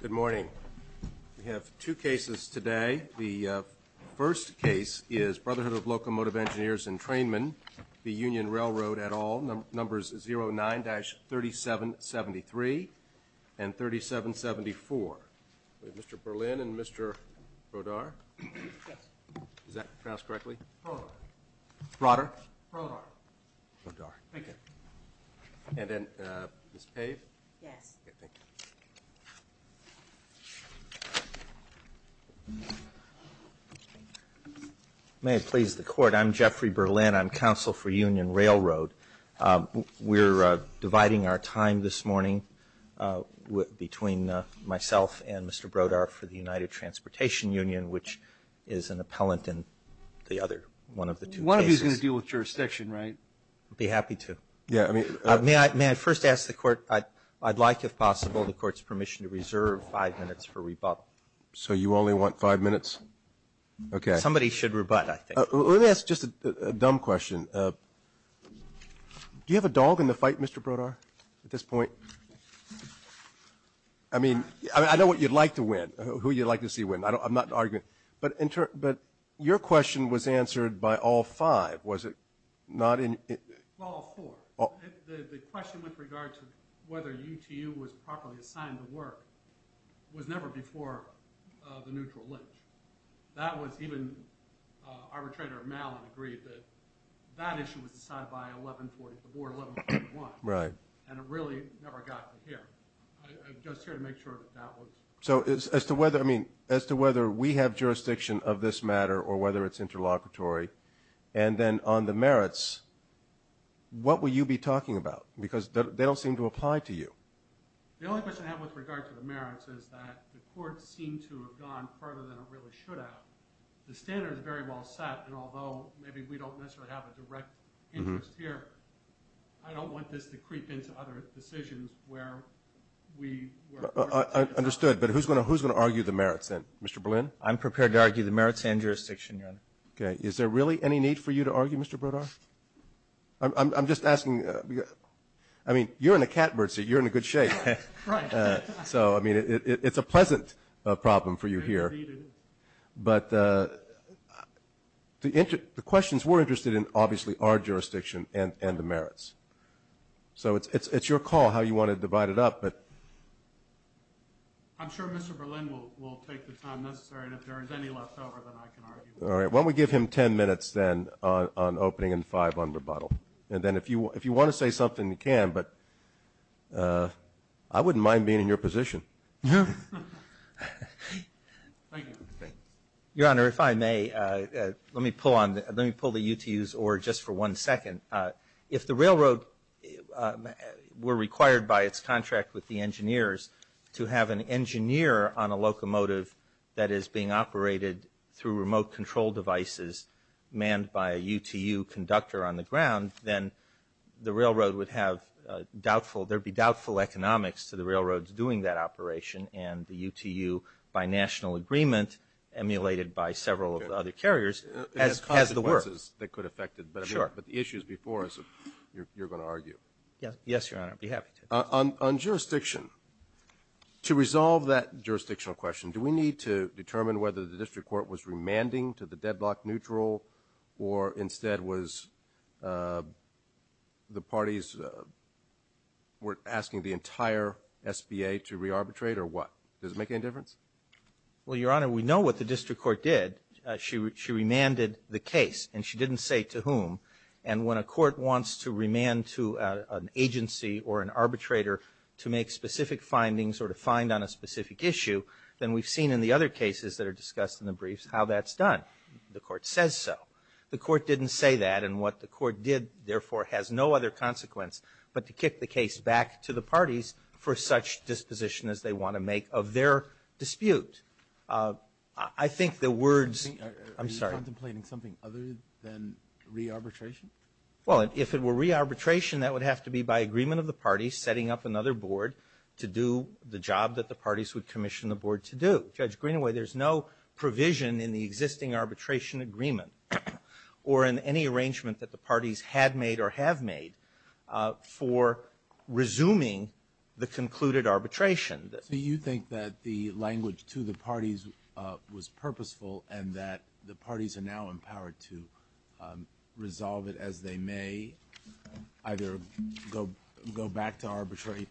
Good morning. We have two cases today. The first case is Brotherhood of Locomotive Engineers and Trainmen. The Union Railroad et al. Numbers 09-3773 and 3774. Mr. Berlin and Mr. Brodar. May it please the court. I'm Jeffrey Berlin. I'm counsel for Union Railroad. We're dividing our appellant in the other one of the two cases. One of you is going to deal with jurisdiction, right? I'd be happy to. May I first ask the court, I'd like if possible the court's permission to reserve five minutes for rebuttal. So you only want five minutes? Somebody should rebut I think. Let me ask just a dumb question. Do you have a dog in the fight, Mr. Brodar, at this point? I mean, I know what you'd like to win, who you'd like to see win. I'm not arguing with you, but your question was answered by all five, was it not? All four. The question with regard to whether UTU was properly assigned to work was never before the neutral lynch. That was even arbitrator Malin agreed that that issue was decided by 1140, the board 1141. Right. And it really never got to here. I'm just here to make sure that that was. So as to whether, I mean, as to whether we have jurisdiction of this matter or whether it's interlocutory and then on the merits, what will you be talking about? Because they don't seem to apply to you. The only question I have with regard to the merits is that the court seemed to have gone further than it really should have. The standard is very well set and although maybe we don't necessarily have a direct interest here, I don't want this to creep into other decisions where we. Understood. But who's going to, who's going to argue the merits then, Mr. Berlin? I'm prepared to argue the merits and jurisdiction, Your Honor. Okay. Is there really any need for you to argue, Mr. Brodar? I'm just asking. I mean, you're in a cat bird seat. You're in a good shape. So, I mean, it's a pleasant problem for you here. But the, the questions we're interested in obviously are jurisdiction and, and the merits. So it's, it's, it's your call how you want to divide it up, but. I'm sure Mr. Berlin will, will take the time necessary and if there is any left over, then I can argue. All right. Why don't we give him 10 minutes then on, on opening and five on rebuttal. And then if you, if you want to say something, you can, but I wouldn't mind being in your position. Thank you. Your Honor, if I may, let me pull on, let me pull the UTU's or just for one second. If the railroad were required by its contract with the engineers to have an engineer on a locomotive that is being operated through remote control devices manned by a UTU conductor on the ground, then the railroad would have doubtful, there'd be doubtful economics to the railroads doing that operation and the UTU by national agreement emulated by several of the other carriers as, as the work. It has consequences that could affect it. Sure. But the issues before us, you're, you're going to argue. Yes, Your Honor, I'd be happy to. On, on jurisdiction, to resolve that jurisdictional question, do we need to determine whether the district court was remanding to the deadlock neutral or instead was the parties were asking the entire SBA to re-arbitrate or what? Does it make any difference? Well, Your Honor, we know what the district court did. She, she remanded the case and she didn't say to whom. And when a court wants to remand to an agency or an arbitrator to make specific findings or to find on a specific issue, then we've seen in the other cases that are discussed in the briefs how that's done. The court says so. The court didn't say that and what the court did therefore has no other consequence but to kick the case I think the words, I'm sorry. Are you contemplating something other than re-arbitration? Well, if it were re-arbitration, that would have to be by agreement of the parties setting up another board to do the job that the parties would commission the board to do. Judge Greenaway, there's no provision in the existing arbitration agreement or in any arrangement that the parties had made or have made for resuming the concluded arbitration. So you think that the language to the parties was purposeful and that the parties are now empowered to resolve it as they may, either go, go back to arbitrate,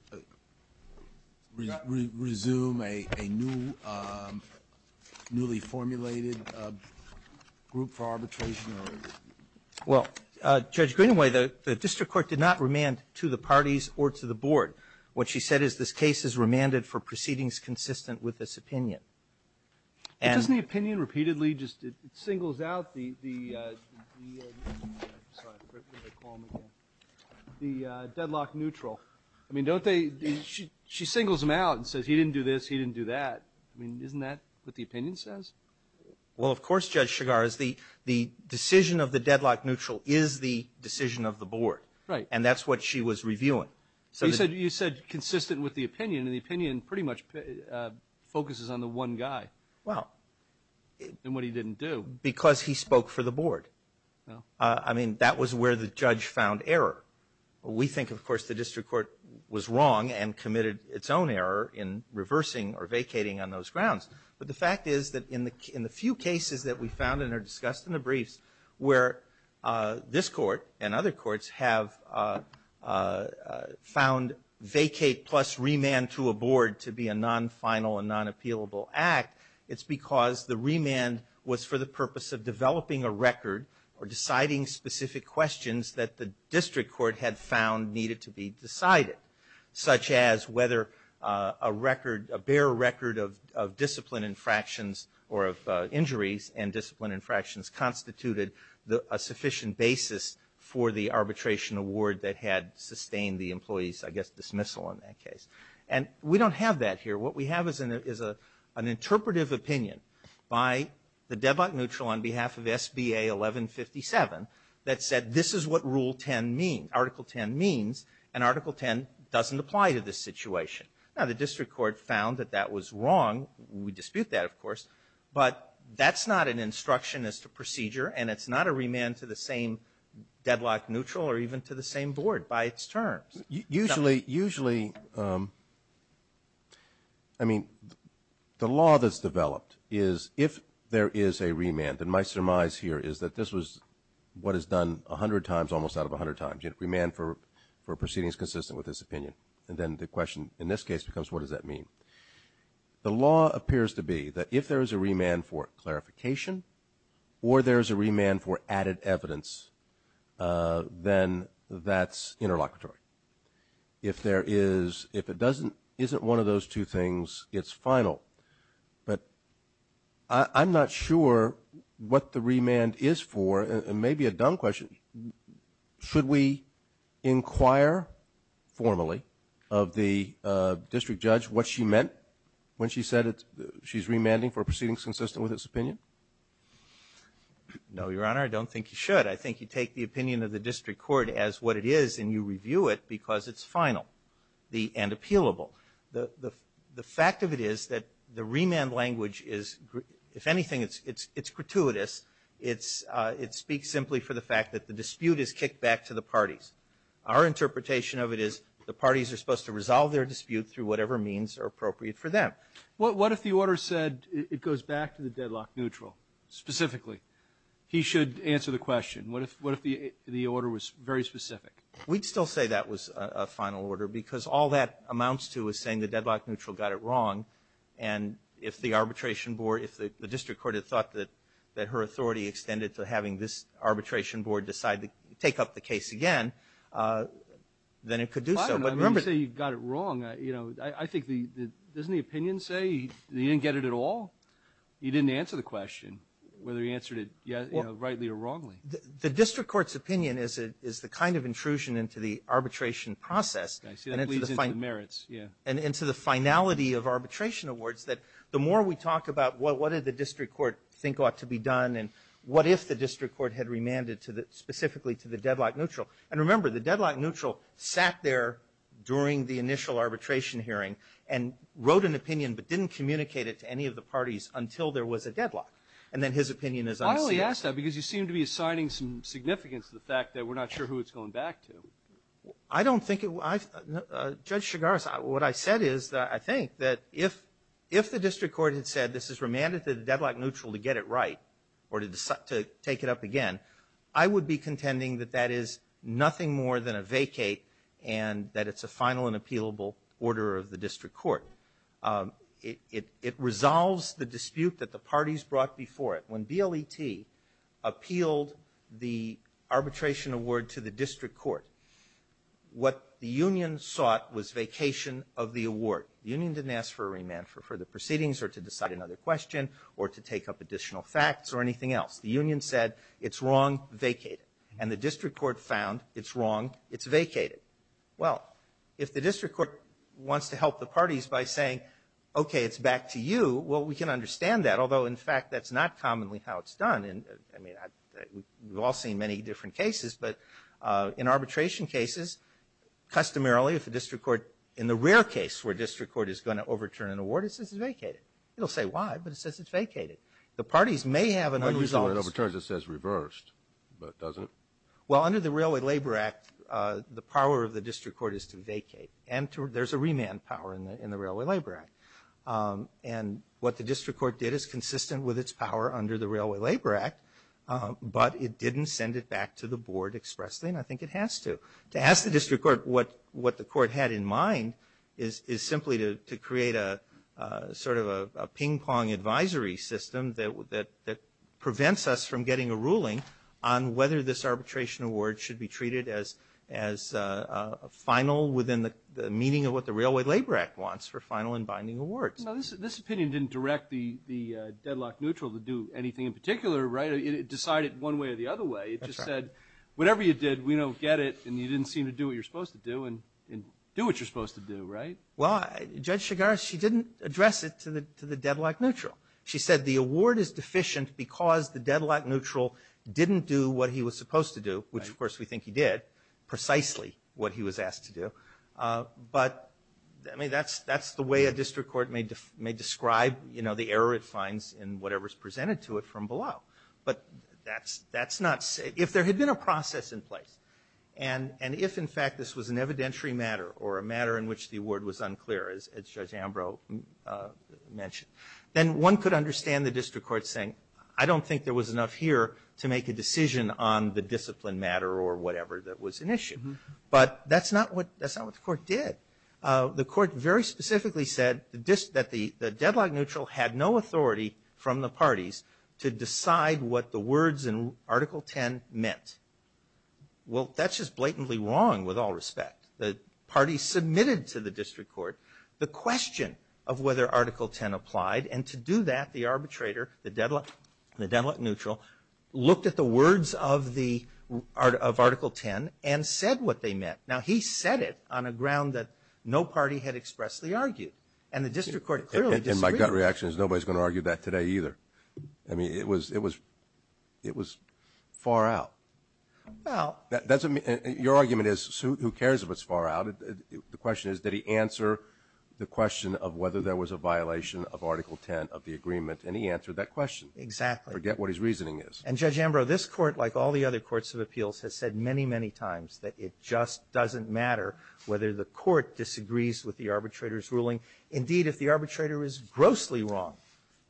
re-resume a, a new, newly formulated group for arbitration or? Well, Judge Greenaway, the district court did not remand to the parties or to the board. What she said is this case is remanded for proceedings consistent with this opinion. And doesn't the opinion repeatedly just, it singles out the, the deadlock neutral. I mean, don't they, she singles them out and says he didn't do this, he didn't do that. I mean, isn't that what the opinion says? Well, of course, Judge Chigar is the, the decision of the deadlock neutral is the decision of the board. Right. And that's what she was reviewing. So you said, you said consistent with the opinion and the opinion pretty much focuses on the one guy. Well, and what he didn't do because he spoke for the board. I mean, that was where the judge found error. We think of course the district court was wrong and committed its own error in reversing or vacating on those grounds. But the fact is that in the, in the few cases that we found and are discussed in the briefs where this court and other courts have found vacate plus remand to a board to be a non-final and non-appealable act, it's because the remand was for the purpose of developing a record or deciding specific questions that the district court had found needed to be decided. Such as whether a record, a bare record of, of discipline infractions or of injuries and discipline infractions constituted a sufficient basis for the arbitration award that had sustained the employee's, I guess, dismissal in that case. And we don't have that here. What we have is an, is a, an interpretive opinion by the deadlock neutral on behalf of SBA 1157 that said this is what Rule 10 means, Article 10 means. And Article 10 doesn't apply to this situation. Now the district court found that that was wrong. We dispute that of course. But that's not an instruction as to procedure and it's not a remand to the same deadlock neutral or even to the same board by its terms. Usually, usually, I mean, the law that's developed is if there is a remand, and my surmise here is that this was what is done a hundred times almost out of a hundred times. Remand for proceedings consistent with this opinion. And then the question in this case becomes what does that mean? The law appears to be that if there is a remand for clarification or there is a remand for added evidence, then that's interlocutory. If there is, if it doesn't, isn't one of those two things, it's final. But I, I'm not sure what the remand is for and maybe a dumb question. Should we inquire formally of the district judge what she meant when she said she's remanding for proceedings consistent with this opinion? No, Your Honor, I don't think you should. I think you take the opinion of the district court as what it is and you review it because it's final and appealable. The fact of it is that the remand language is, if anything, it's gratuitous. It speaks simply for the fact that the dispute is kicked back to the parties. Our interpretation of it is the parties are supposed to resolve their dispute through whatever means are appropriate for them. What if the order said it goes back to the deadlock neutral specifically? He should answer the question. What if, what if the, the order was very specific? We'd still say that was a final order because all that amounts to is saying the deadlock neutral got it wrong. And if the arbitration board, if the district court had thought that, that her authority extended to having this arbitration board decide to take up the case again, then it could do so. I don't know. I mean, you say you got it wrong. You know, I think the, the, doesn't the opinion say that he didn't get it at all? He didn't answer the question, whether he answered it, you know, rightly or wrongly. The district court's opinion is a, is the kind of intrusion into the arbitration process. I see that leads into the merits. Yeah. And into the finality of arbitration awards that the more we talk about what, what did the district court think ought to be done and what if the district court had remanded to the, specifically to the deadlock neutral. And remember, the deadlock neutral sat there during the initial arbitration hearing and wrote an opinion but didn't communicate it to any of the parties until there was a deadlock. And then his opinion is unsealed. I only ask that because you seem to be assigning some significance to the fact that we're not sure who it's going back to. I don't think it, I, Judge Chigaris, what I said is that I think that if, if the district court had said this is remanded to the deadlock neutral to get it right or to, to take it up again, I would be contending that that is nothing more than a vacate and that it's a final and appealable order of the district court. It, it, it resolves the dispute that the parties brought before it. When BLET appealed the arbitration award to the district court, what the union sought was vacation of the award. The union didn't ask for a remand for further proceedings or to decide another question or to take up additional facts or anything else. The union said it's wrong, vacate it. And the district court found it's wrong, it's vacated. Well, if the district court wants to help the parties by saying, okay, it's back to you, well, we can understand that. Although, in fact, that's not commonly how it's done. And, I mean, I, we've all seen many different cases. But in arbitration cases, customarily, if the district court, in the rare case where it overturned an award, it says it's vacated. It'll say why, but it says it's vacated. The parties may have an unresolved. When you say it overturned, it says reversed, but it doesn't? Well, under the Railway Labor Act, the power of the district court is to vacate. And to, there's a remand power in the, in the Railway Labor Act. And what the district court did is consistent with its power under the Railway Labor Act. But it didn't send it back to the board expressly, and I think it has to. To ask the district court what, what the court had in mind is, is simply to, to create a, a sort of a, a ping-pong advisory system that, that, that prevents us from getting a ruling on whether this arbitration award should be treated as, as a final within the meaning of what the Railway Labor Act wants for final and binding awards. Now, this, this opinion didn't direct the, the deadlock neutral to do anything in particular, right? It decided one way or the other way. That's right. It just said, whatever you did, we don't get it, and you didn't seem to do what you're supposed to do, right? Well, Judge Shigarashi didn't address it to the, to the deadlock neutral. She said the award is deficient because the deadlock neutral didn't do what he was supposed to do. Right. Which, of course, we think he did precisely what he was asked to do. But, I mean, that's, that's the way a district court may, may describe, you know, the error it finds in whatever's presented to it from below. But that's, that's not, if there had been a process in place, and, and if, in fact, this was an evidentiary matter or a matter in which the award was unclear, as, as Judge Ambrose mentioned, then one could understand the district court saying, I don't think there was enough here to make a decision on the discipline matter or whatever that was an issue. But that's not what, that's not what the court did. The court very specifically said the dis-, that the, the deadlock neutral had no authority from the parties to decide what the words in Article 10 meant. Well, that's just blatantly wrong with all respect. The parties submitted to the district court the question of whether Article 10 applied. And to do that, the arbitrator, the deadlock, the deadlock neutral, looked at the words of the, of Article 10 and said what they meant. Now, he said it on a ground that no party had expressly argued. And the district court clearly disagreed. In my gut reactions, nobody's going to argue that today either. I mean, it was, it was, it was far out. Well. That, that's a, your argument is, who, who cares if it's far out? The question is, did he answer the question of whether there was a violation of Article 10 of the agreement? And he answered that question. Exactly. Forget what his reasoning is. And Judge Ambrose, this court, like all the other courts of appeals, has said many, many times that it just doesn't matter whether the court disagrees with the arbitrator's reasoning. If it's grossly wrong,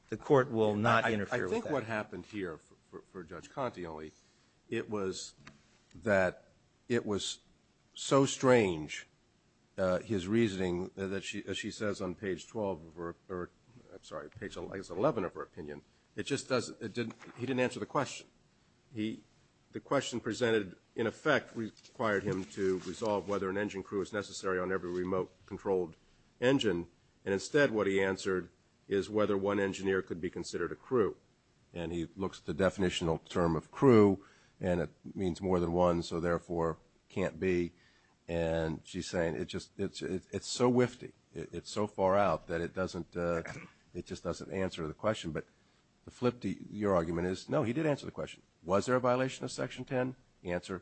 the court will not interfere with that. I think what happened here for, for Judge Conte only, it was that it was so strange his reasoning that she, as she says on page 12 of her, or I'm sorry, page 11 of her opinion, it just doesn't, it didn't, he didn't answer the question. He, the question presented in effect required him to resolve whether an engine crew is necessary on every remote controlled engine. And instead what he answered is whether one engineer could be considered a crew. And he looks at the definitional term of crew and it means more than one, so therefore can't be. And she's saying it just, it's, it's so wifty. It's so far out that it doesn't, it just doesn't answer the question. But the flip to your argument is, no, he did answer the question. Was there a violation of Section 10? The answer,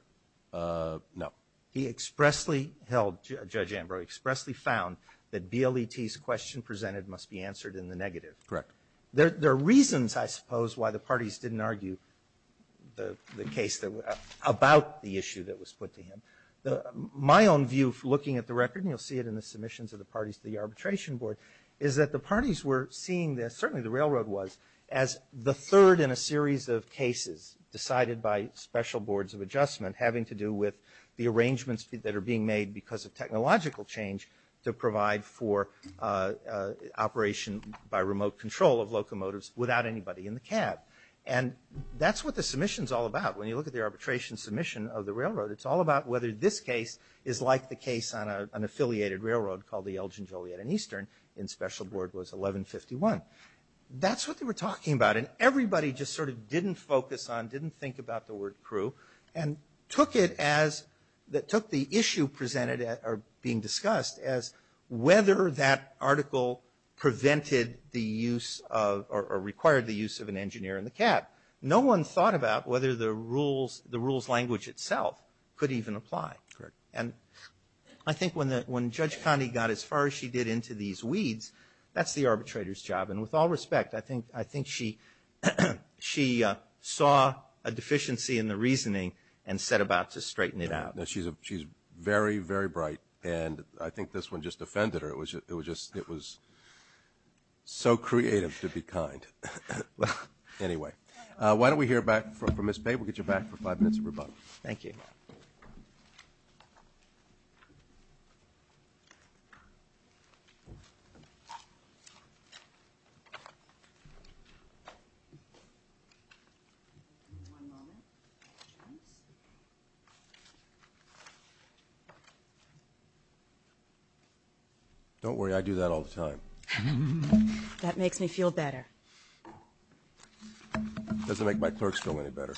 no. He expressly held, Judge Ambrose, expressly found that BLET's question presented must be answered in the negative. Correct. There, there are reasons, I suppose, why the parties didn't argue the, the case that, about the issue that was put to him. The, my own view for looking at the record, and you'll see it in the submissions of the parties to the arbitration board, is that the parties were seeing this, certainly the railroad was, as the third in a series of cases decided by special boards of adjustment having to do with the arrangements that are being made because of technological change to provide for operation by remote control of locomotives without anybody in the cab. And that's what the submission's all about. When you look at the arbitration submission of the railroad, it's all about whether this case is like the case on a, an affiliated railroad called the Elgin, Joliet, and Eastern in special board was 1151. That's what they were talking about. And everybody just sort of didn't focus on, didn't think about the word crew, and took it as, that took the issue presented at, or being discussed as whether that article prevented the use of, or, or required the use of an engineer in the cab. No one thought about whether the rules, the rules language itself could even apply. Correct. And I think when the, when Judge Conde got as far as she did into these weeds, that's the arbitrator's job. And with all respect, I think, I think she, she saw a deficiency in the reasoning and set about to straighten it out. No, she's a, she's very, very bright. And I think this one just offended her. It was, it was just, it was so creative to be kind. Anyway, why don't we hear back from Ms. Bate. We'll get you back for five minutes of rebuttal. Thank you. One moment. Don't worry, I do that all the time. That makes me feel better. It doesn't make my clerks feel any better.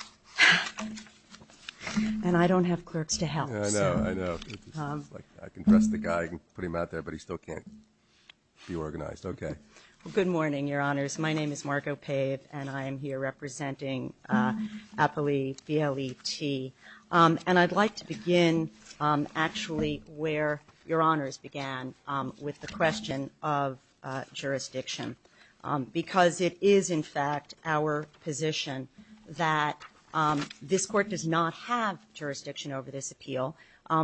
And I don't have clerks to help, so. I know, I know. It's just like, I can dress the guy, I can put him out there, but he still can't be organized. Okay. Good morning, Your Honors. My name is Margo Pave, and I am here representing APLE, BLET. And I'd like to begin, actually, where Your Honors began, with the question of jurisdiction. Because it is, in fact, our position that this Court does not have jurisdiction over this appeal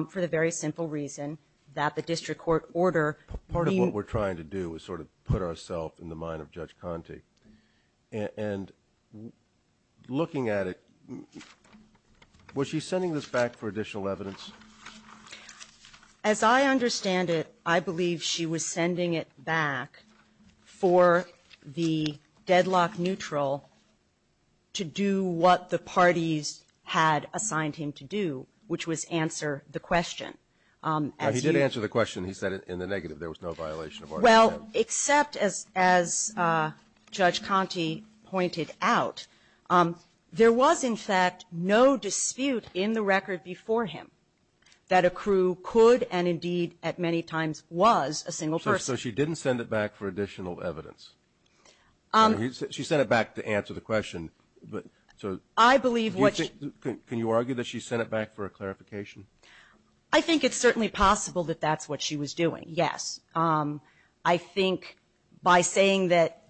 for the very simple reason that the district court order. Part of what we're trying to do is sort of put ourselves in the mind of Judge Conte. And looking at it, was she sending this back for additional evidence? As I understand it, I believe she was sending it back for the deadlock neutral to do what the parties had assigned him to do, which was answer the question. He did answer the question. He said in the negative there was no violation of order. Well, except, as Judge Conte pointed out, there was, in fact, no dispute in the record before him that a crew could, and indeed at many times was, a single person. So she didn't send it back for additional evidence. She sent it back to answer the question. But, so, can you argue that she sent it back for a clarification? I think it's certainly possible that that's what she was doing, yes. I think by saying that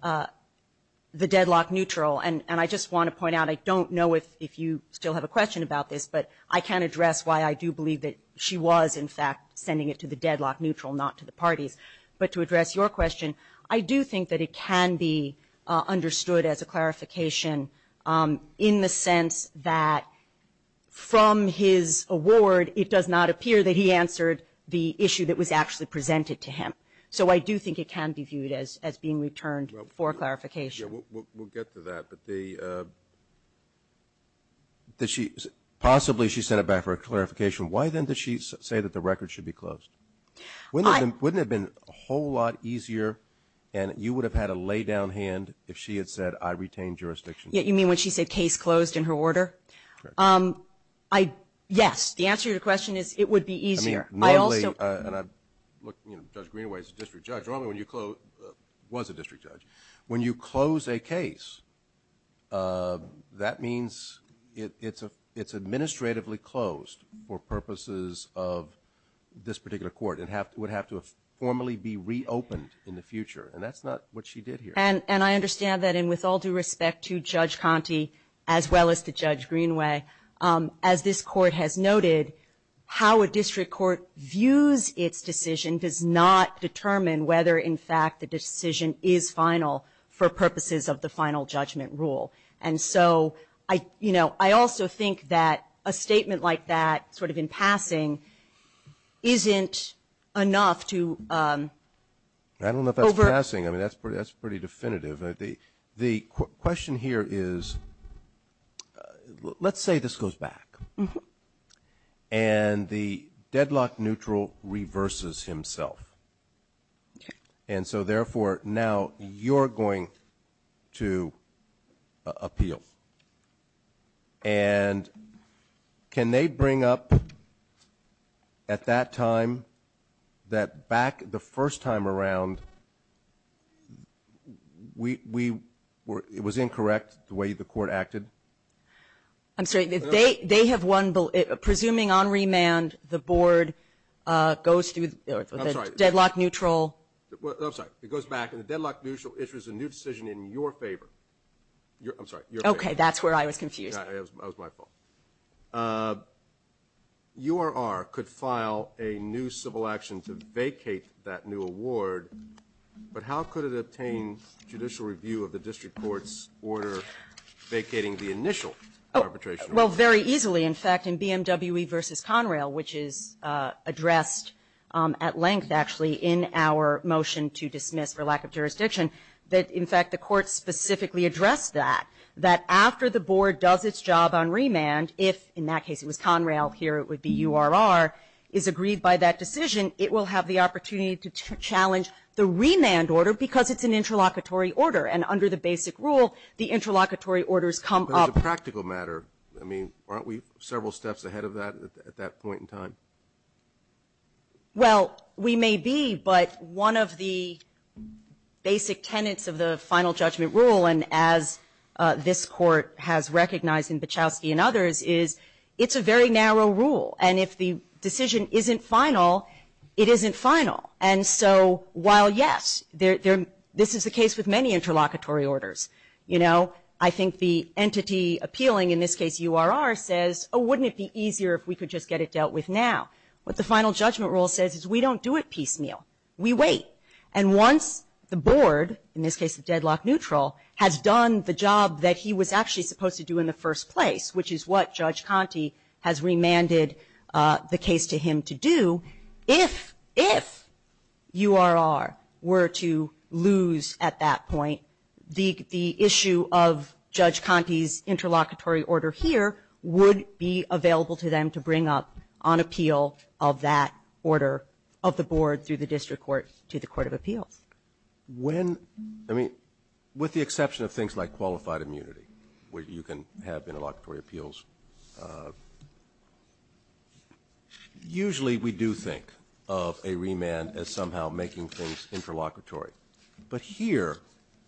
the deadlock neutral, and I just want to point out, I don't know if you still have a question about this, but I can address why I do believe that she was, in fact, sending it to the deadlock neutral, not to the parties. But to address your question, I do think that it can be understood as a clarification in the sense that from his award it does not appear that he answered the issue that was actually presented to him. So I do think it can be viewed as being returned for clarification. We'll get to that, but the, did she, possibly she sent it back for a clarification. Why then did she say that the record should be closed? Wouldn't it have been a whole lot easier and you would have had a lay down hand if she had said, I retain jurisdiction. You mean when she said case closed in her order? Yes, the answer to your question is it would be easier. Judge Greenaway is a district judge, normally when you close, was a district judge, when you close a case, that means it's administratively closed for purposes of this particular court. It would have to formally be reopened in the future, and that's not what she did here. And I understand that, and with all due respect to Judge Conte, as well as to Judge Greenaway, as this court has noted, how a district court views its decision does not determine whether, in fact, the decision is final for purposes of the final judgment rule. And so I, you know, I also think that a statement like that, sort of in passing, isn't enough to over- I don't know if that's passing, I mean that's pretty definitive. The question here is, let's say this goes back, and the deadlock neutral reverses himself. And so therefore, now you're going to appeal. And can they bring up, at that time, that back the first time around, it was incorrect, the way the court acted? I'm sorry, they have won, presuming on remand, the board goes through the deadlock neutral. I'm sorry, it goes back, and the deadlock neutral issues a new decision in your favor. Okay, that's where I was confused. URR could file a new civil action to vacate that new award, but how could it obtain judicial review of the district court's order vacating the initial arbitration? Well, very easily, in fact, in BMWE v. Conrail, which is addressed at length, actually, in our motion to dismiss for lack of jurisdiction, that, in fact, the court specifically addressed that, that after the board does its job on remand, if, in that case, it was Conrail, here it would be URR, is agreed by that decision, it will have the opportunity to challenge the remand order, because it's an interlocutory order, and under the basic rule, the interlocutory orders come up. But as a practical matter, I mean, aren't we several steps ahead of that at that point in time? Well, we may be, but one of the basic tenets of the final judgment rule, and as this Court has recognized in Bachowski and others, is it's a very narrow rule, and if the decision isn't final, it isn't final. And so while, yes, this is the case with many interlocutory orders, you know, I think the entity appealing, in this case URR, says, oh, wouldn't it be easier if we could just get it dealt with now, what the final judgment rule says is we don't do it piecemeal. We wait. And once the board, in this case the deadlock neutral, has done the job that he was actually supposed to do in the first place, which is what Judge Conte has remanded the case to him to do, if URR were to lose at that point, the issue of Judge Conte's interlocutory order here would be available to them to bring up on appeal of that order of the board through the district court to the court of appeals. With the exception of things like qualified immunity, where you can have interlocutory appeals, usually we do think of a remand as somehow making things interlocutory. But here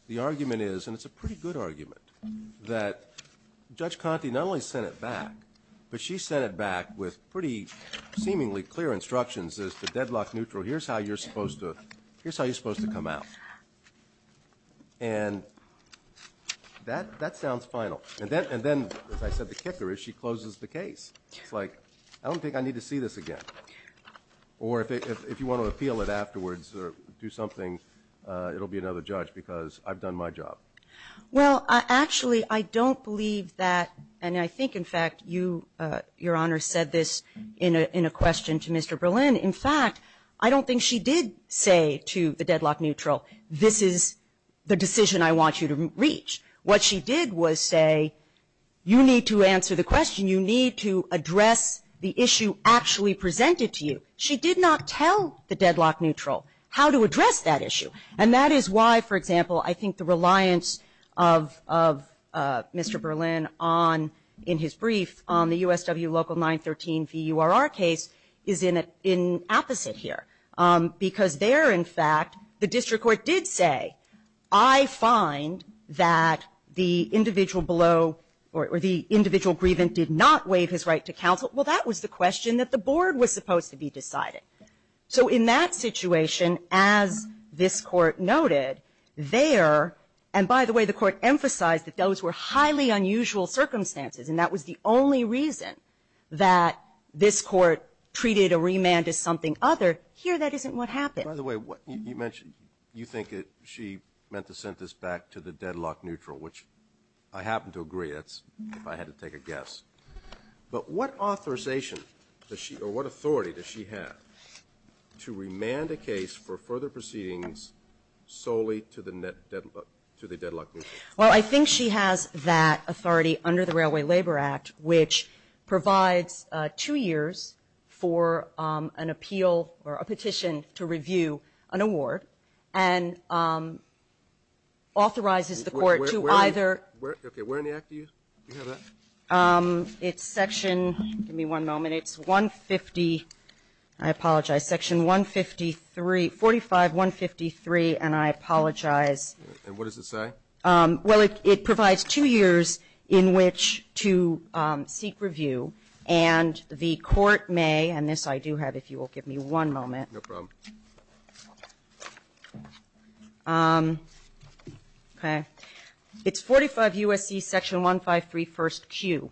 the argument is, and it's a pretty good argument, that Judge Conte not only sent it back, but she sent it back with pretty seemingly clear instructions as to deadlock neutral, here's how you're supposed to come out. And that sounds final. And then, as I said, the kicker is she closes the case. It's like, I don't think I need to see this again. Or if you want to appeal it afterwards or do something, it'll be another judge, because I've done my job. Well, actually, I don't believe that, and I think, in fact, Your Honor said this in a question to Mr. Berlin. In fact, I don't think she did say to the deadlock neutral, this is the decision I want you to reach. What she did was say, you need to answer the question, you need to address the issue actually presented to you. She did not tell the deadlock neutral how to address that issue. And that is why, for example, I think the reliance of Mr. Berlin on, in his brief, on the USW Local 913 VURR case is in opposite here. Because there, in fact, the district court did say, I find that the individual below or the individual grievant did not waive his right to counsel. Well, that was the question that the board was supposed to be deciding. So in that situation, as this Court noted, there, and by the way, the Court emphasized that those were highly unusual circumstances, and that was the only reason that this Court treated a remand as something other. Here, that isn't what happened. By the way, you mentioned, you think that she meant to send this back to the deadlock neutral, which I happen to agree, if I had to take a guess. But what authorization does she, or what authority does she have to remand a case for further proceedings solely to the deadlock neutral? Well, I think she has that authority under the Railway Labor Act, which provides two years for an appeal or a petition to review an award, and authorizes the court to either. Okay, where in the act do you have that? It's section, give me one moment, it's 150, I apologize, section 153, 45153, and I apologize. And what does it say? Well, it provides two years in which to seek review, and the court may, and this I do have, if you will give me one moment. No problem. Okay. It's 45 U.S.C. section 153, first Q.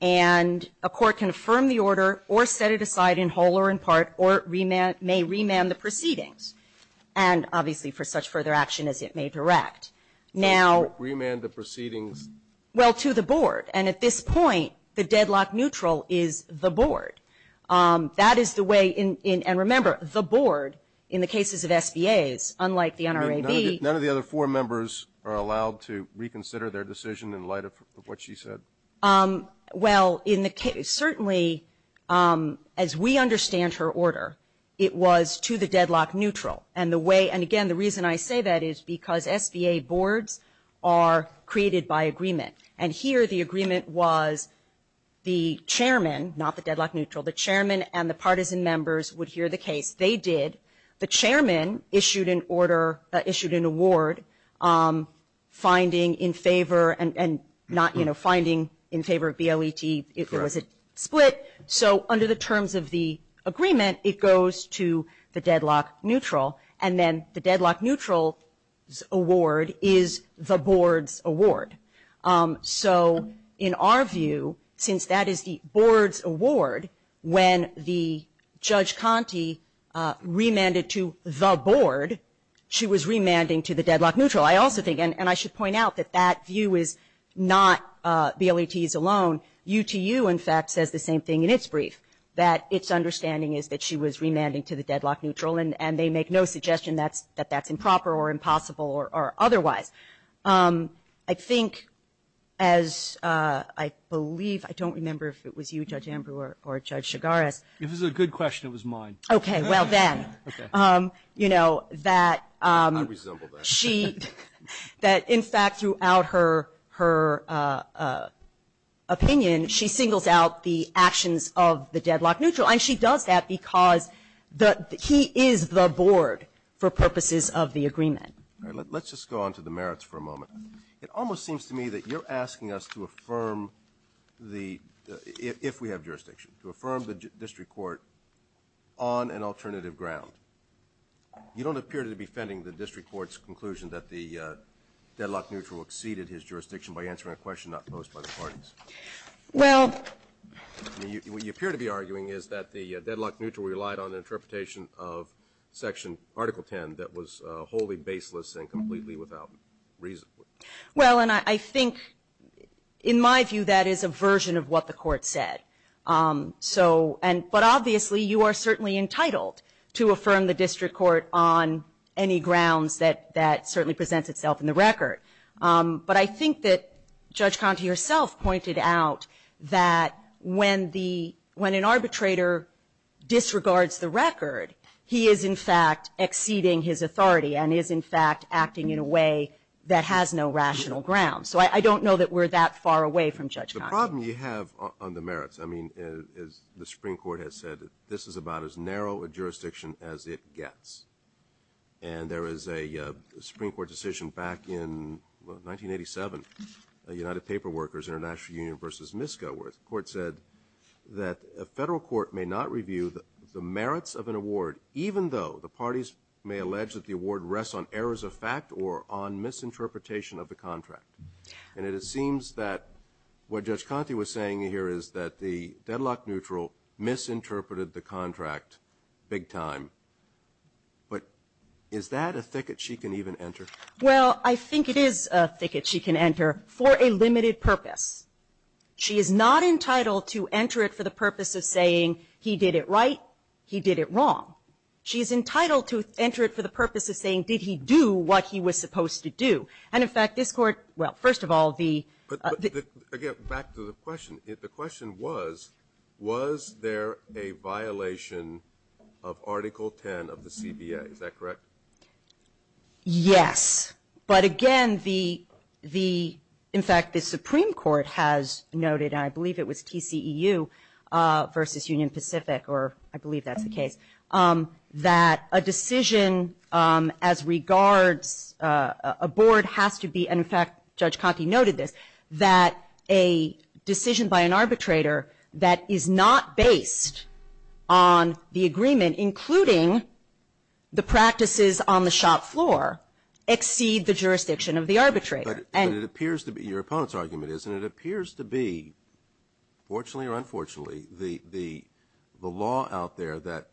And a court can affirm the order or set it aside in whole or in part, or may remand the proceedings, and obviously for such further action as it may direct. Remand the proceedings? Well, to the board, and at this point the deadlock neutral is the board. That is the way, and remember, the board in the cases of SBAs, unlike the NRAB. None of the other four members are allowed to reconsider their decision in light of what she said? Well, certainly as we understand her order, it was to the deadlock neutral. And the way, and again, the reason I say that is because SBA boards are created by agreement. And here the agreement was the chairman, not the deadlock neutral, the chairman and the partisan members would hear the case, they did. The chairman issued an order, issued an award, finding in favor, and not, you know, finding in favor of BLET, it was a split. So under the terms of the agreement, it goes to the deadlock neutral. And then the deadlock neutral's award is the board's award. So in our view, since that is the board's award, when the Judge Conte remanded to the board, she was remanding to the deadlock neutral. I also think, and I should point out that that view is not BLET's alone. UTU, in fact, says the same thing in its brief, that its understanding is that she was remanding to the deadlock neutral, and they make no suggestion that that's improper or impossible or otherwise. I think, as I believe, I don't remember if it was you, Judge Amber or Judge Chigares. If it was a good question, it was mine. Okay, well then, you know, that she, that in fact throughout her opinion, she singles out the actions of the deadlock neutral. And she does that because he is the board for purposes of the agreement. All right, let's just go on to the merits for a moment. It almost seems to me that you're asking us to affirm the, if we have jurisdiction, to affirm the district court on an alternative ground. You don't appear to be defending the district court's conclusion that the deadlock neutral exceeded his jurisdiction by answering a question not posed by the parties. Well. I mean, what you appear to be arguing is that the deadlock neutral relied on interpretation of Section Article 10 that was wholly baseless and completely without reason. Well, and I think, in my view, that is a version of what the Court said. So, and, but obviously, you are certainly entitled to affirm the district court on any grounds that certainly presents itself in the record. But I think that Judge Conte herself pointed out that when the, when an arbitrator disregards the record, he is in fact exceeding his authority and is in fact acting in a way that has no rational ground. So I don't know that we're that far away from Judge Conte. The problem you have on the merits, I mean, as the Supreme Court has said, this is about as narrow a jurisdiction as it gets. And there is a Supreme Court decision back in, well, 1987, United Paper Workers International Union v. Miskow, where the Court said that a federal court may not review the merits of an award even though the parties may allege that the award rests on errors of fact or on misinterpretation of the contract. And it seems that what Judge Conte was saying here is that the deadlock neutral misinterpreted the contract big time. But is that a thicket she can even enter? Well, I think it is a thicket she can enter for a limited purpose. She is not entitled to enter it for the purpose of saying he did it right, he did it wrong. She is entitled to enter it for the purpose of saying, did he do what he was supposed to do? And in fact, this Court, well, first of all, the ---- But again, back to the question. The question was, was there a violation of Article 10 of the CBA? Is that correct? Yes. But again, the, in fact, the Supreme Court has noted, and I believe it was TCEU v. Union Pacific, or I believe that's the case, that a decision as regards a board has to be, and in fact, Judge Conte noted this, that a decision by an arbitrator that is not based on the agreement, including the practices on the shop floor, exceed the jurisdiction of the arbitrator. But it appears to be, your opponent's argument is, and it appears to be, fortunately or unfortunately, the law out there that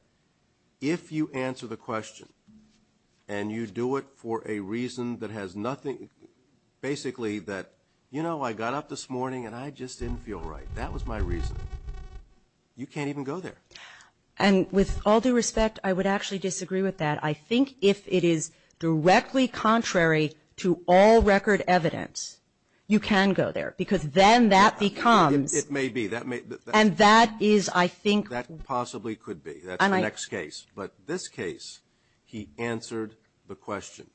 if you answer the question and you do it for a reason that has nothing, basically that, you know, I got up this morning and I just didn't feel right. That was my reason. You can't even go there. And with all due respect, I would actually disagree with that. I think if it is directly contrary to all record evidence, you can go there, because then that becomes ---- It may be. And that is, I think ---- That possibly could be. That's the next case. But this case, he answered the question.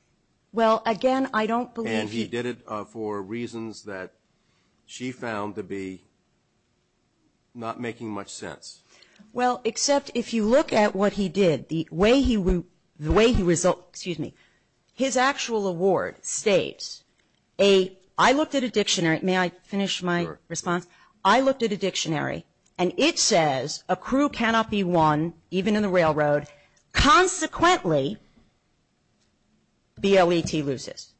Well, again, I don't believe he ---- And he did it for reasons that she found to be not making much sense. Well, except if you look at what he did, the way he, the way he, excuse me, his actual award states a, I looked at a dictionary. May I finish my response? I looked at a dictionary, and it says a crew cannot be won, even in the railroad. Consequently, BLET loses.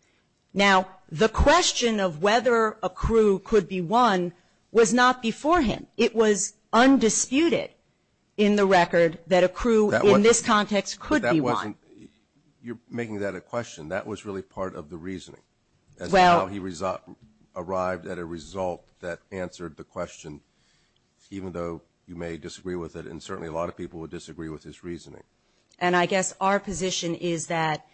Now, the question of whether a crew could be won was not before him. It was undisputed in the record that a crew in this context could be won. You're making that a question. That was really part of the reasoning as to how he arrived at a result that answered the question, even though you may disagree with it, and certainly a lot of people would disagree with his reasoning. And I guess our position is that,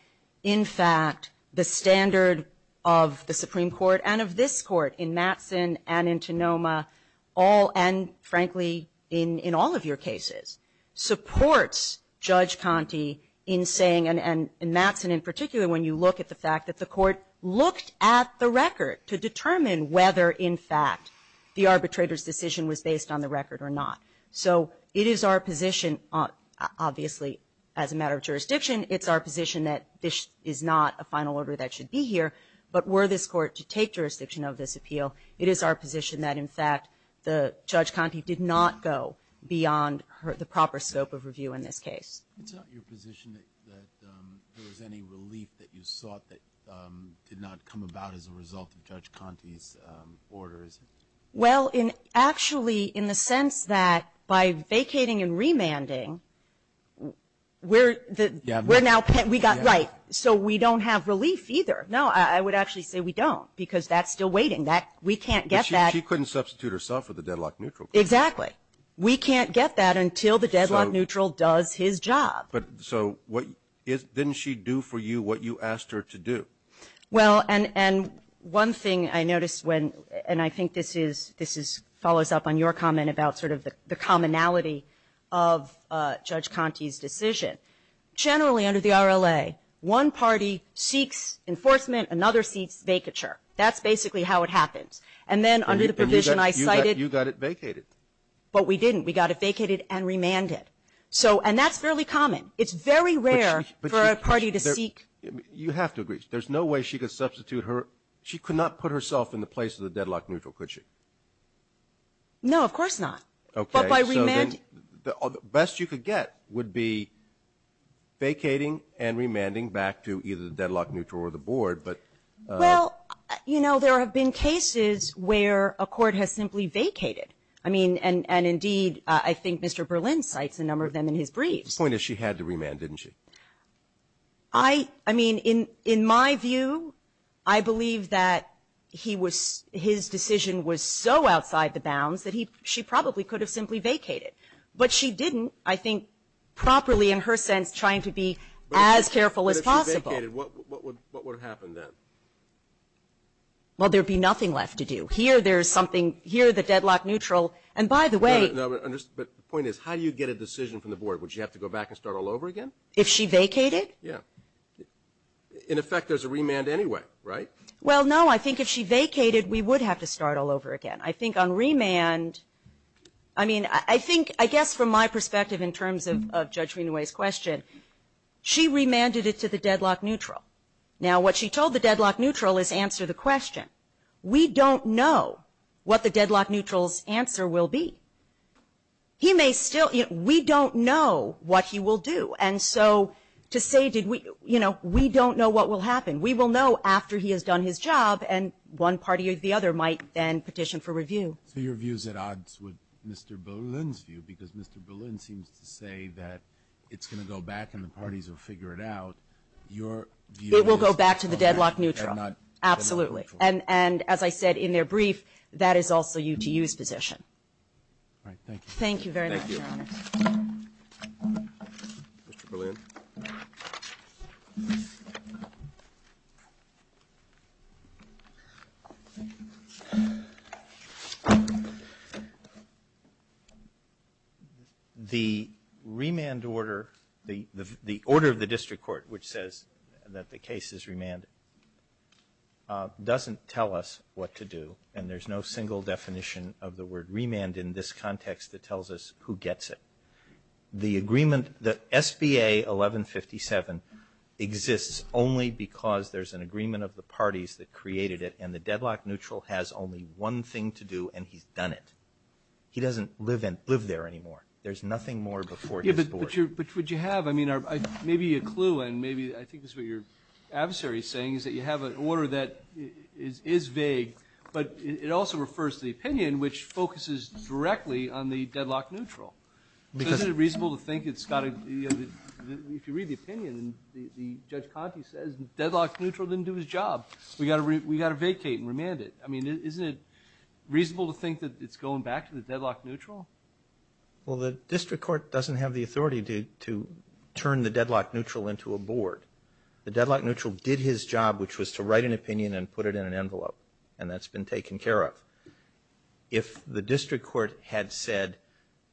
in fact, the standard of the Supreme Court and of this Court in Mattson and in Tonoma all, and frankly in all of your cases, supports Judge Conte in saying, and in Mattson in particular, when you look at the fact that the Court looked at the record to determine whether, in fact, the arbitrator's decision was based on the record or not. So it is our position, obviously, as a matter of jurisdiction, it's our position that this is not a final order that should be here, but were this Court to take jurisdiction of this appeal, it is our position that, in fact, Judge Conte did not go beyond the proper scope of review in this case. It's not your position that there was any relief that you sought that did not come about as a result of Judge Conte's order, is it? Well, actually, in the sense that by vacating and remanding, we're now pet we got right, so we don't have relief either. No, I would actually say we don't, because that's still waiting. We can't get that. But she couldn't substitute herself with a deadlock neutral case. Exactly. We can't get that until the deadlock neutral does his job. So what didn't she do for you what you asked her to do? Well, and one thing I noticed when, and I think this is, this follows up on your comment about sort of the commonality of Judge Conte's decision. Generally under the RLA, one party seeks enforcement, another seeks vacature. That's basically how it happens. And then under the provision I cited you got it vacated. But we didn't. We got it vacated and remanded. So, and that's fairly common. It's very rare for a party to seek. You have to agree. There's no way she could substitute her. She could not put herself in the place of the deadlock neutral, could she? No, of course not. Okay. So then the best you could get would be vacating and remanding back to either the deadlock neutral or the board, but. Well, you know, there have been cases where a court has simply vacated. I mean, and indeed, I think Mr. Berlin cites a number of them in his briefs. The point is she had to remand, didn't she? I mean, in my view, I believe that he was, his decision was so outside the bounds that she probably could have simply vacated. But she didn't, I think, properly in her sense trying to be as careful as possible. But if she vacated, what would happen then? Well, there would be nothing left to do. Here there's something, here the deadlock neutral, and by the way. No, but the point is how do you get a decision from the board? Would she have to go back and start all over again? If she vacated? Yeah. In effect there's a remand anyway, right? Well, no, I think if she vacated we would have to start all over again. I think on remand, I mean, I think, I guess from my perspective in terms of Judge Greenway's question, she remanded it to the deadlock neutral. Now what she told the deadlock neutral is answer the question. We don't know what the deadlock neutral's answer will be. He may still, we don't know what he will do. And so to say did we, you know, we don't know what will happen. We will know after he has done his job and one party or the other might then petition for review. So your view's at odds with Mr. Boleyn's view because Mr. Boleyn seems to say that it's going to go back and the parties will figure it out. Your view is. It will go back to the deadlock neutral. Absolutely. And as I said in their brief, that is also UTU's position. All right. Thank you very much, Your Honor. Thank you. Mr. Boleyn. The remand order, the order of the district court which says that the case is remanded doesn't tell us what to do and there's no single definition of the word remand in this context that tells us who gets it. The agreement, the SBA 1157 exists only because there's an agreement of the parties that created it and the deadlock neutral has only one thing to do and he's done it. He doesn't live there anymore. There's nothing more before his board. But what you have, I mean, maybe a clue and maybe I think this is what your adversary is saying is that you have an order that is vague but it also refers to the opinion which focuses directly on the deadlock neutral. Isn't it reasonable to think it's got to, if you read the opinion, the Judge Conte says the deadlock neutral didn't do his job. We got to vacate and remand it. I mean, isn't it reasonable to think that it's going back to the deadlock neutral? Well, the district court doesn't have the authority to turn the deadlock neutral into a board. The deadlock neutral did his job which was to write an opinion and put it in an envelope and that's been taken care of. If the district court had said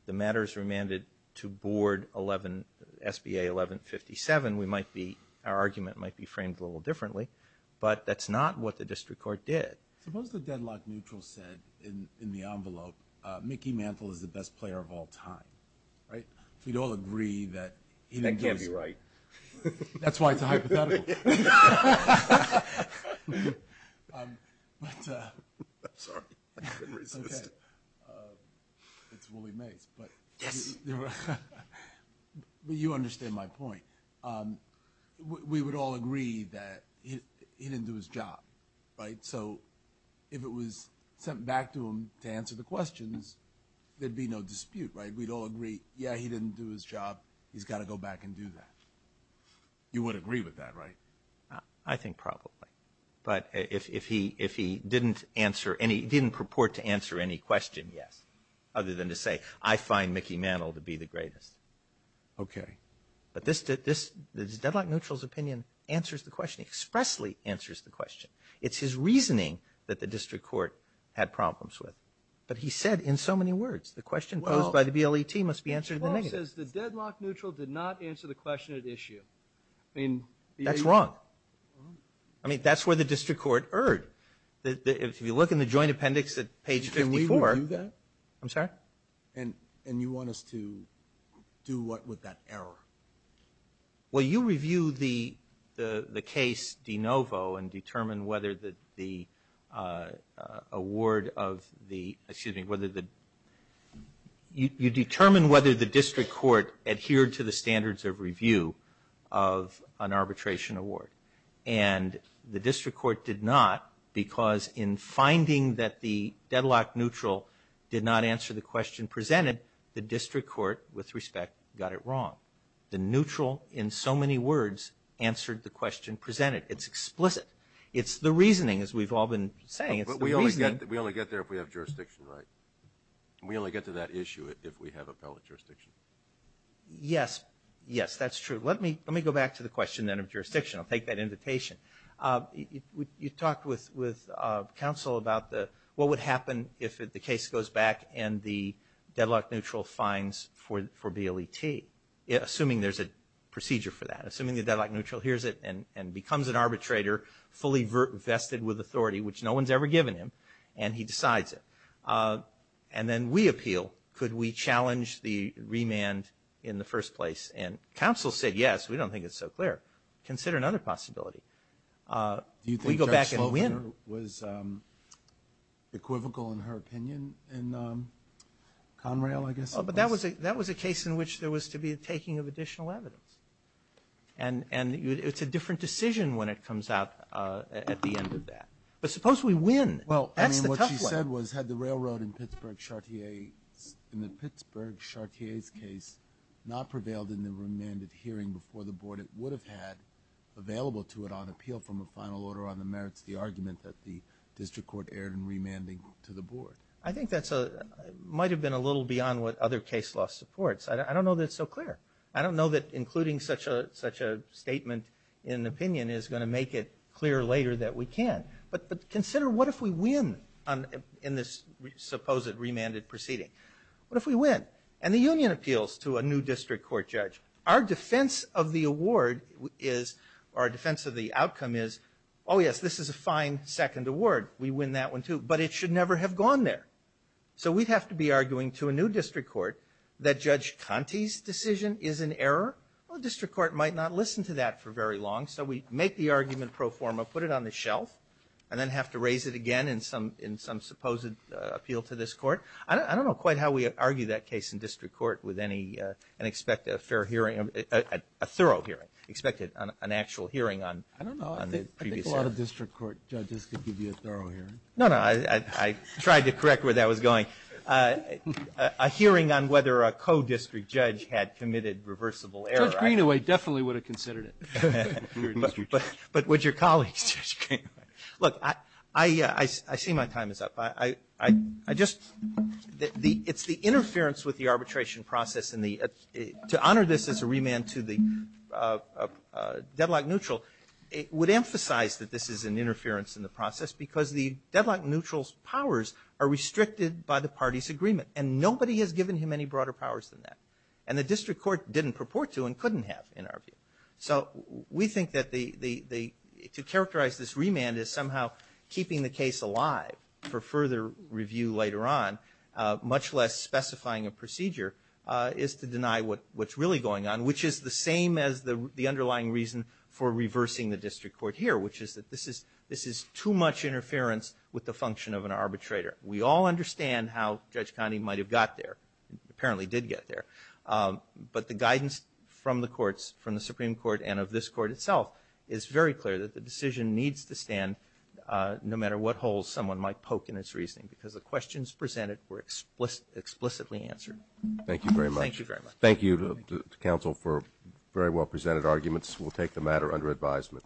the matter is remanded to board 11, SBA 1157, we might be, our argument might be framed a little differently but that's not what the district court did. Suppose the deadlock neutral said in the envelope, Mickey Mantle is the best player of all time, right? We'd all agree that he was. That can't be right. That's why it's a hypothetical. I'm sorry. It's Willie Mace but you understand my point. We would all agree that he didn't do his job, right? So if it was sent back to him to answer the questions, there'd be no dispute, right? We'd all agree, yeah, he didn't do his job. He's got to go back and do that. You would agree with that, right? I think probably. But if he didn't answer any, didn't purport to answer any question, yes. Other than to say, I find Mickey Mantle to be the greatest. Okay. But this deadlock neutral's opinion answers the question, expressly answers the question. It's his reasoning that the district court had problems with. But he said in so many words, the question posed by the BLET must be answered in the negative. He says the deadlock neutral did not answer the question at issue. That's wrong. I mean, that's where the district court erred. If you look in the joint appendix at page 54. Can we review that? I'm sorry? And you want us to do what with that error? Well, you review the case de novo and determine whether the award of the, excuse me, whether the, you determine whether the district court adhered to the standards of review of an arbitration award. And the district court did not because in finding that the deadlock neutral did not answer the question presented, the district court, with respect, got it wrong. The neutral, in so many words, answered the question presented. It's explicit. It's the reasoning, as we've all been saying. It's the reasoning. But we only get there if we have jurisdiction, right? We only get to that issue if we have appellate jurisdiction. Yes. Yes, that's true. Let me go back to the question then of jurisdiction. I'll take that invitation. You talked with counsel about what would happen if the case goes back and the deadlock neutral finds for BLET, assuming there's a procedure for that, assuming the deadlock neutral hears it and becomes an arbitrator fully vested with authority, which no one's ever given him, and he decides it. And then we appeal. Could we challenge the remand in the first place? And counsel said yes. We don't think it's so clear. Consider another possibility. Do you think Judge Slovener was equivocal in her opinion in Conrail, I guess it was? That was a case in which there was to be a taking of additional evidence. And it's a different decision when it comes out at the end of that. But suppose we win. Well, that's the tough one. I mean, what she said was had the railroad in Pittsburgh Chartier's case not prevailed in the remanded hearing before the board, it would have had available to it on appeal from a final order on the merits the argument that the district court erred in remanding to the board. I think that might have been a little beyond what other case law supports. I don't know that it's so clear. I don't know that including such a statement in an opinion is going to make it clear later that we can. But consider what if we win in this supposed remanded proceeding? What if we win? And the union appeals to a new district court judge. Our defense of the award is, or our defense of the outcome is, oh, yes, this is a fine second award. We win that one, too. But it should never have gone there. So we'd have to be arguing to a new district court that Judge Conte's decision is an error. Well, the district court might not listen to that for very long. So we make the argument pro forma, put it on the shelf, and then have to raise it again in some supposed appeal to this court. I don't know quite how we argue that case in district court with any, and expect a thorough hearing, expected an actual hearing on the previous hearing. But a lot of district court judges could give you a thorough hearing. No, no. I tried to correct where that was going. A hearing on whether a co-district judge had committed reversible error. Judge Greenaway definitely would have considered it. But would your colleagues, Judge Greenaway. Look, I see my time is up. I just, it's the interference with the arbitration process, and to honor this as a remand to the deadlock neutral, it would emphasize that this is an interference in the process because the deadlock neutral's powers are restricted by the party's agreement. And nobody has given him any broader powers than that. And the district court didn't purport to and couldn't have, in our view. So we think that the, to characterize this remand as somehow keeping the case alive for further review later on, much less specifying a procedure, is to deny what's really going on, which is the same as the underlying reason for reversing the district court here, which is that this is too much interference with the function of an arbitrator. We all understand how Judge Connally might have got there, apparently did get there. But the guidance from the courts, from the Supreme Court and of this court itself, is very clear that the decision needs to stand no matter what holes someone might poke in its reasoning because the questions presented were explicitly answered. Thank you very much. Thank you very much. Thank you to counsel for very well presented arguments. We'll take the matter under advisement.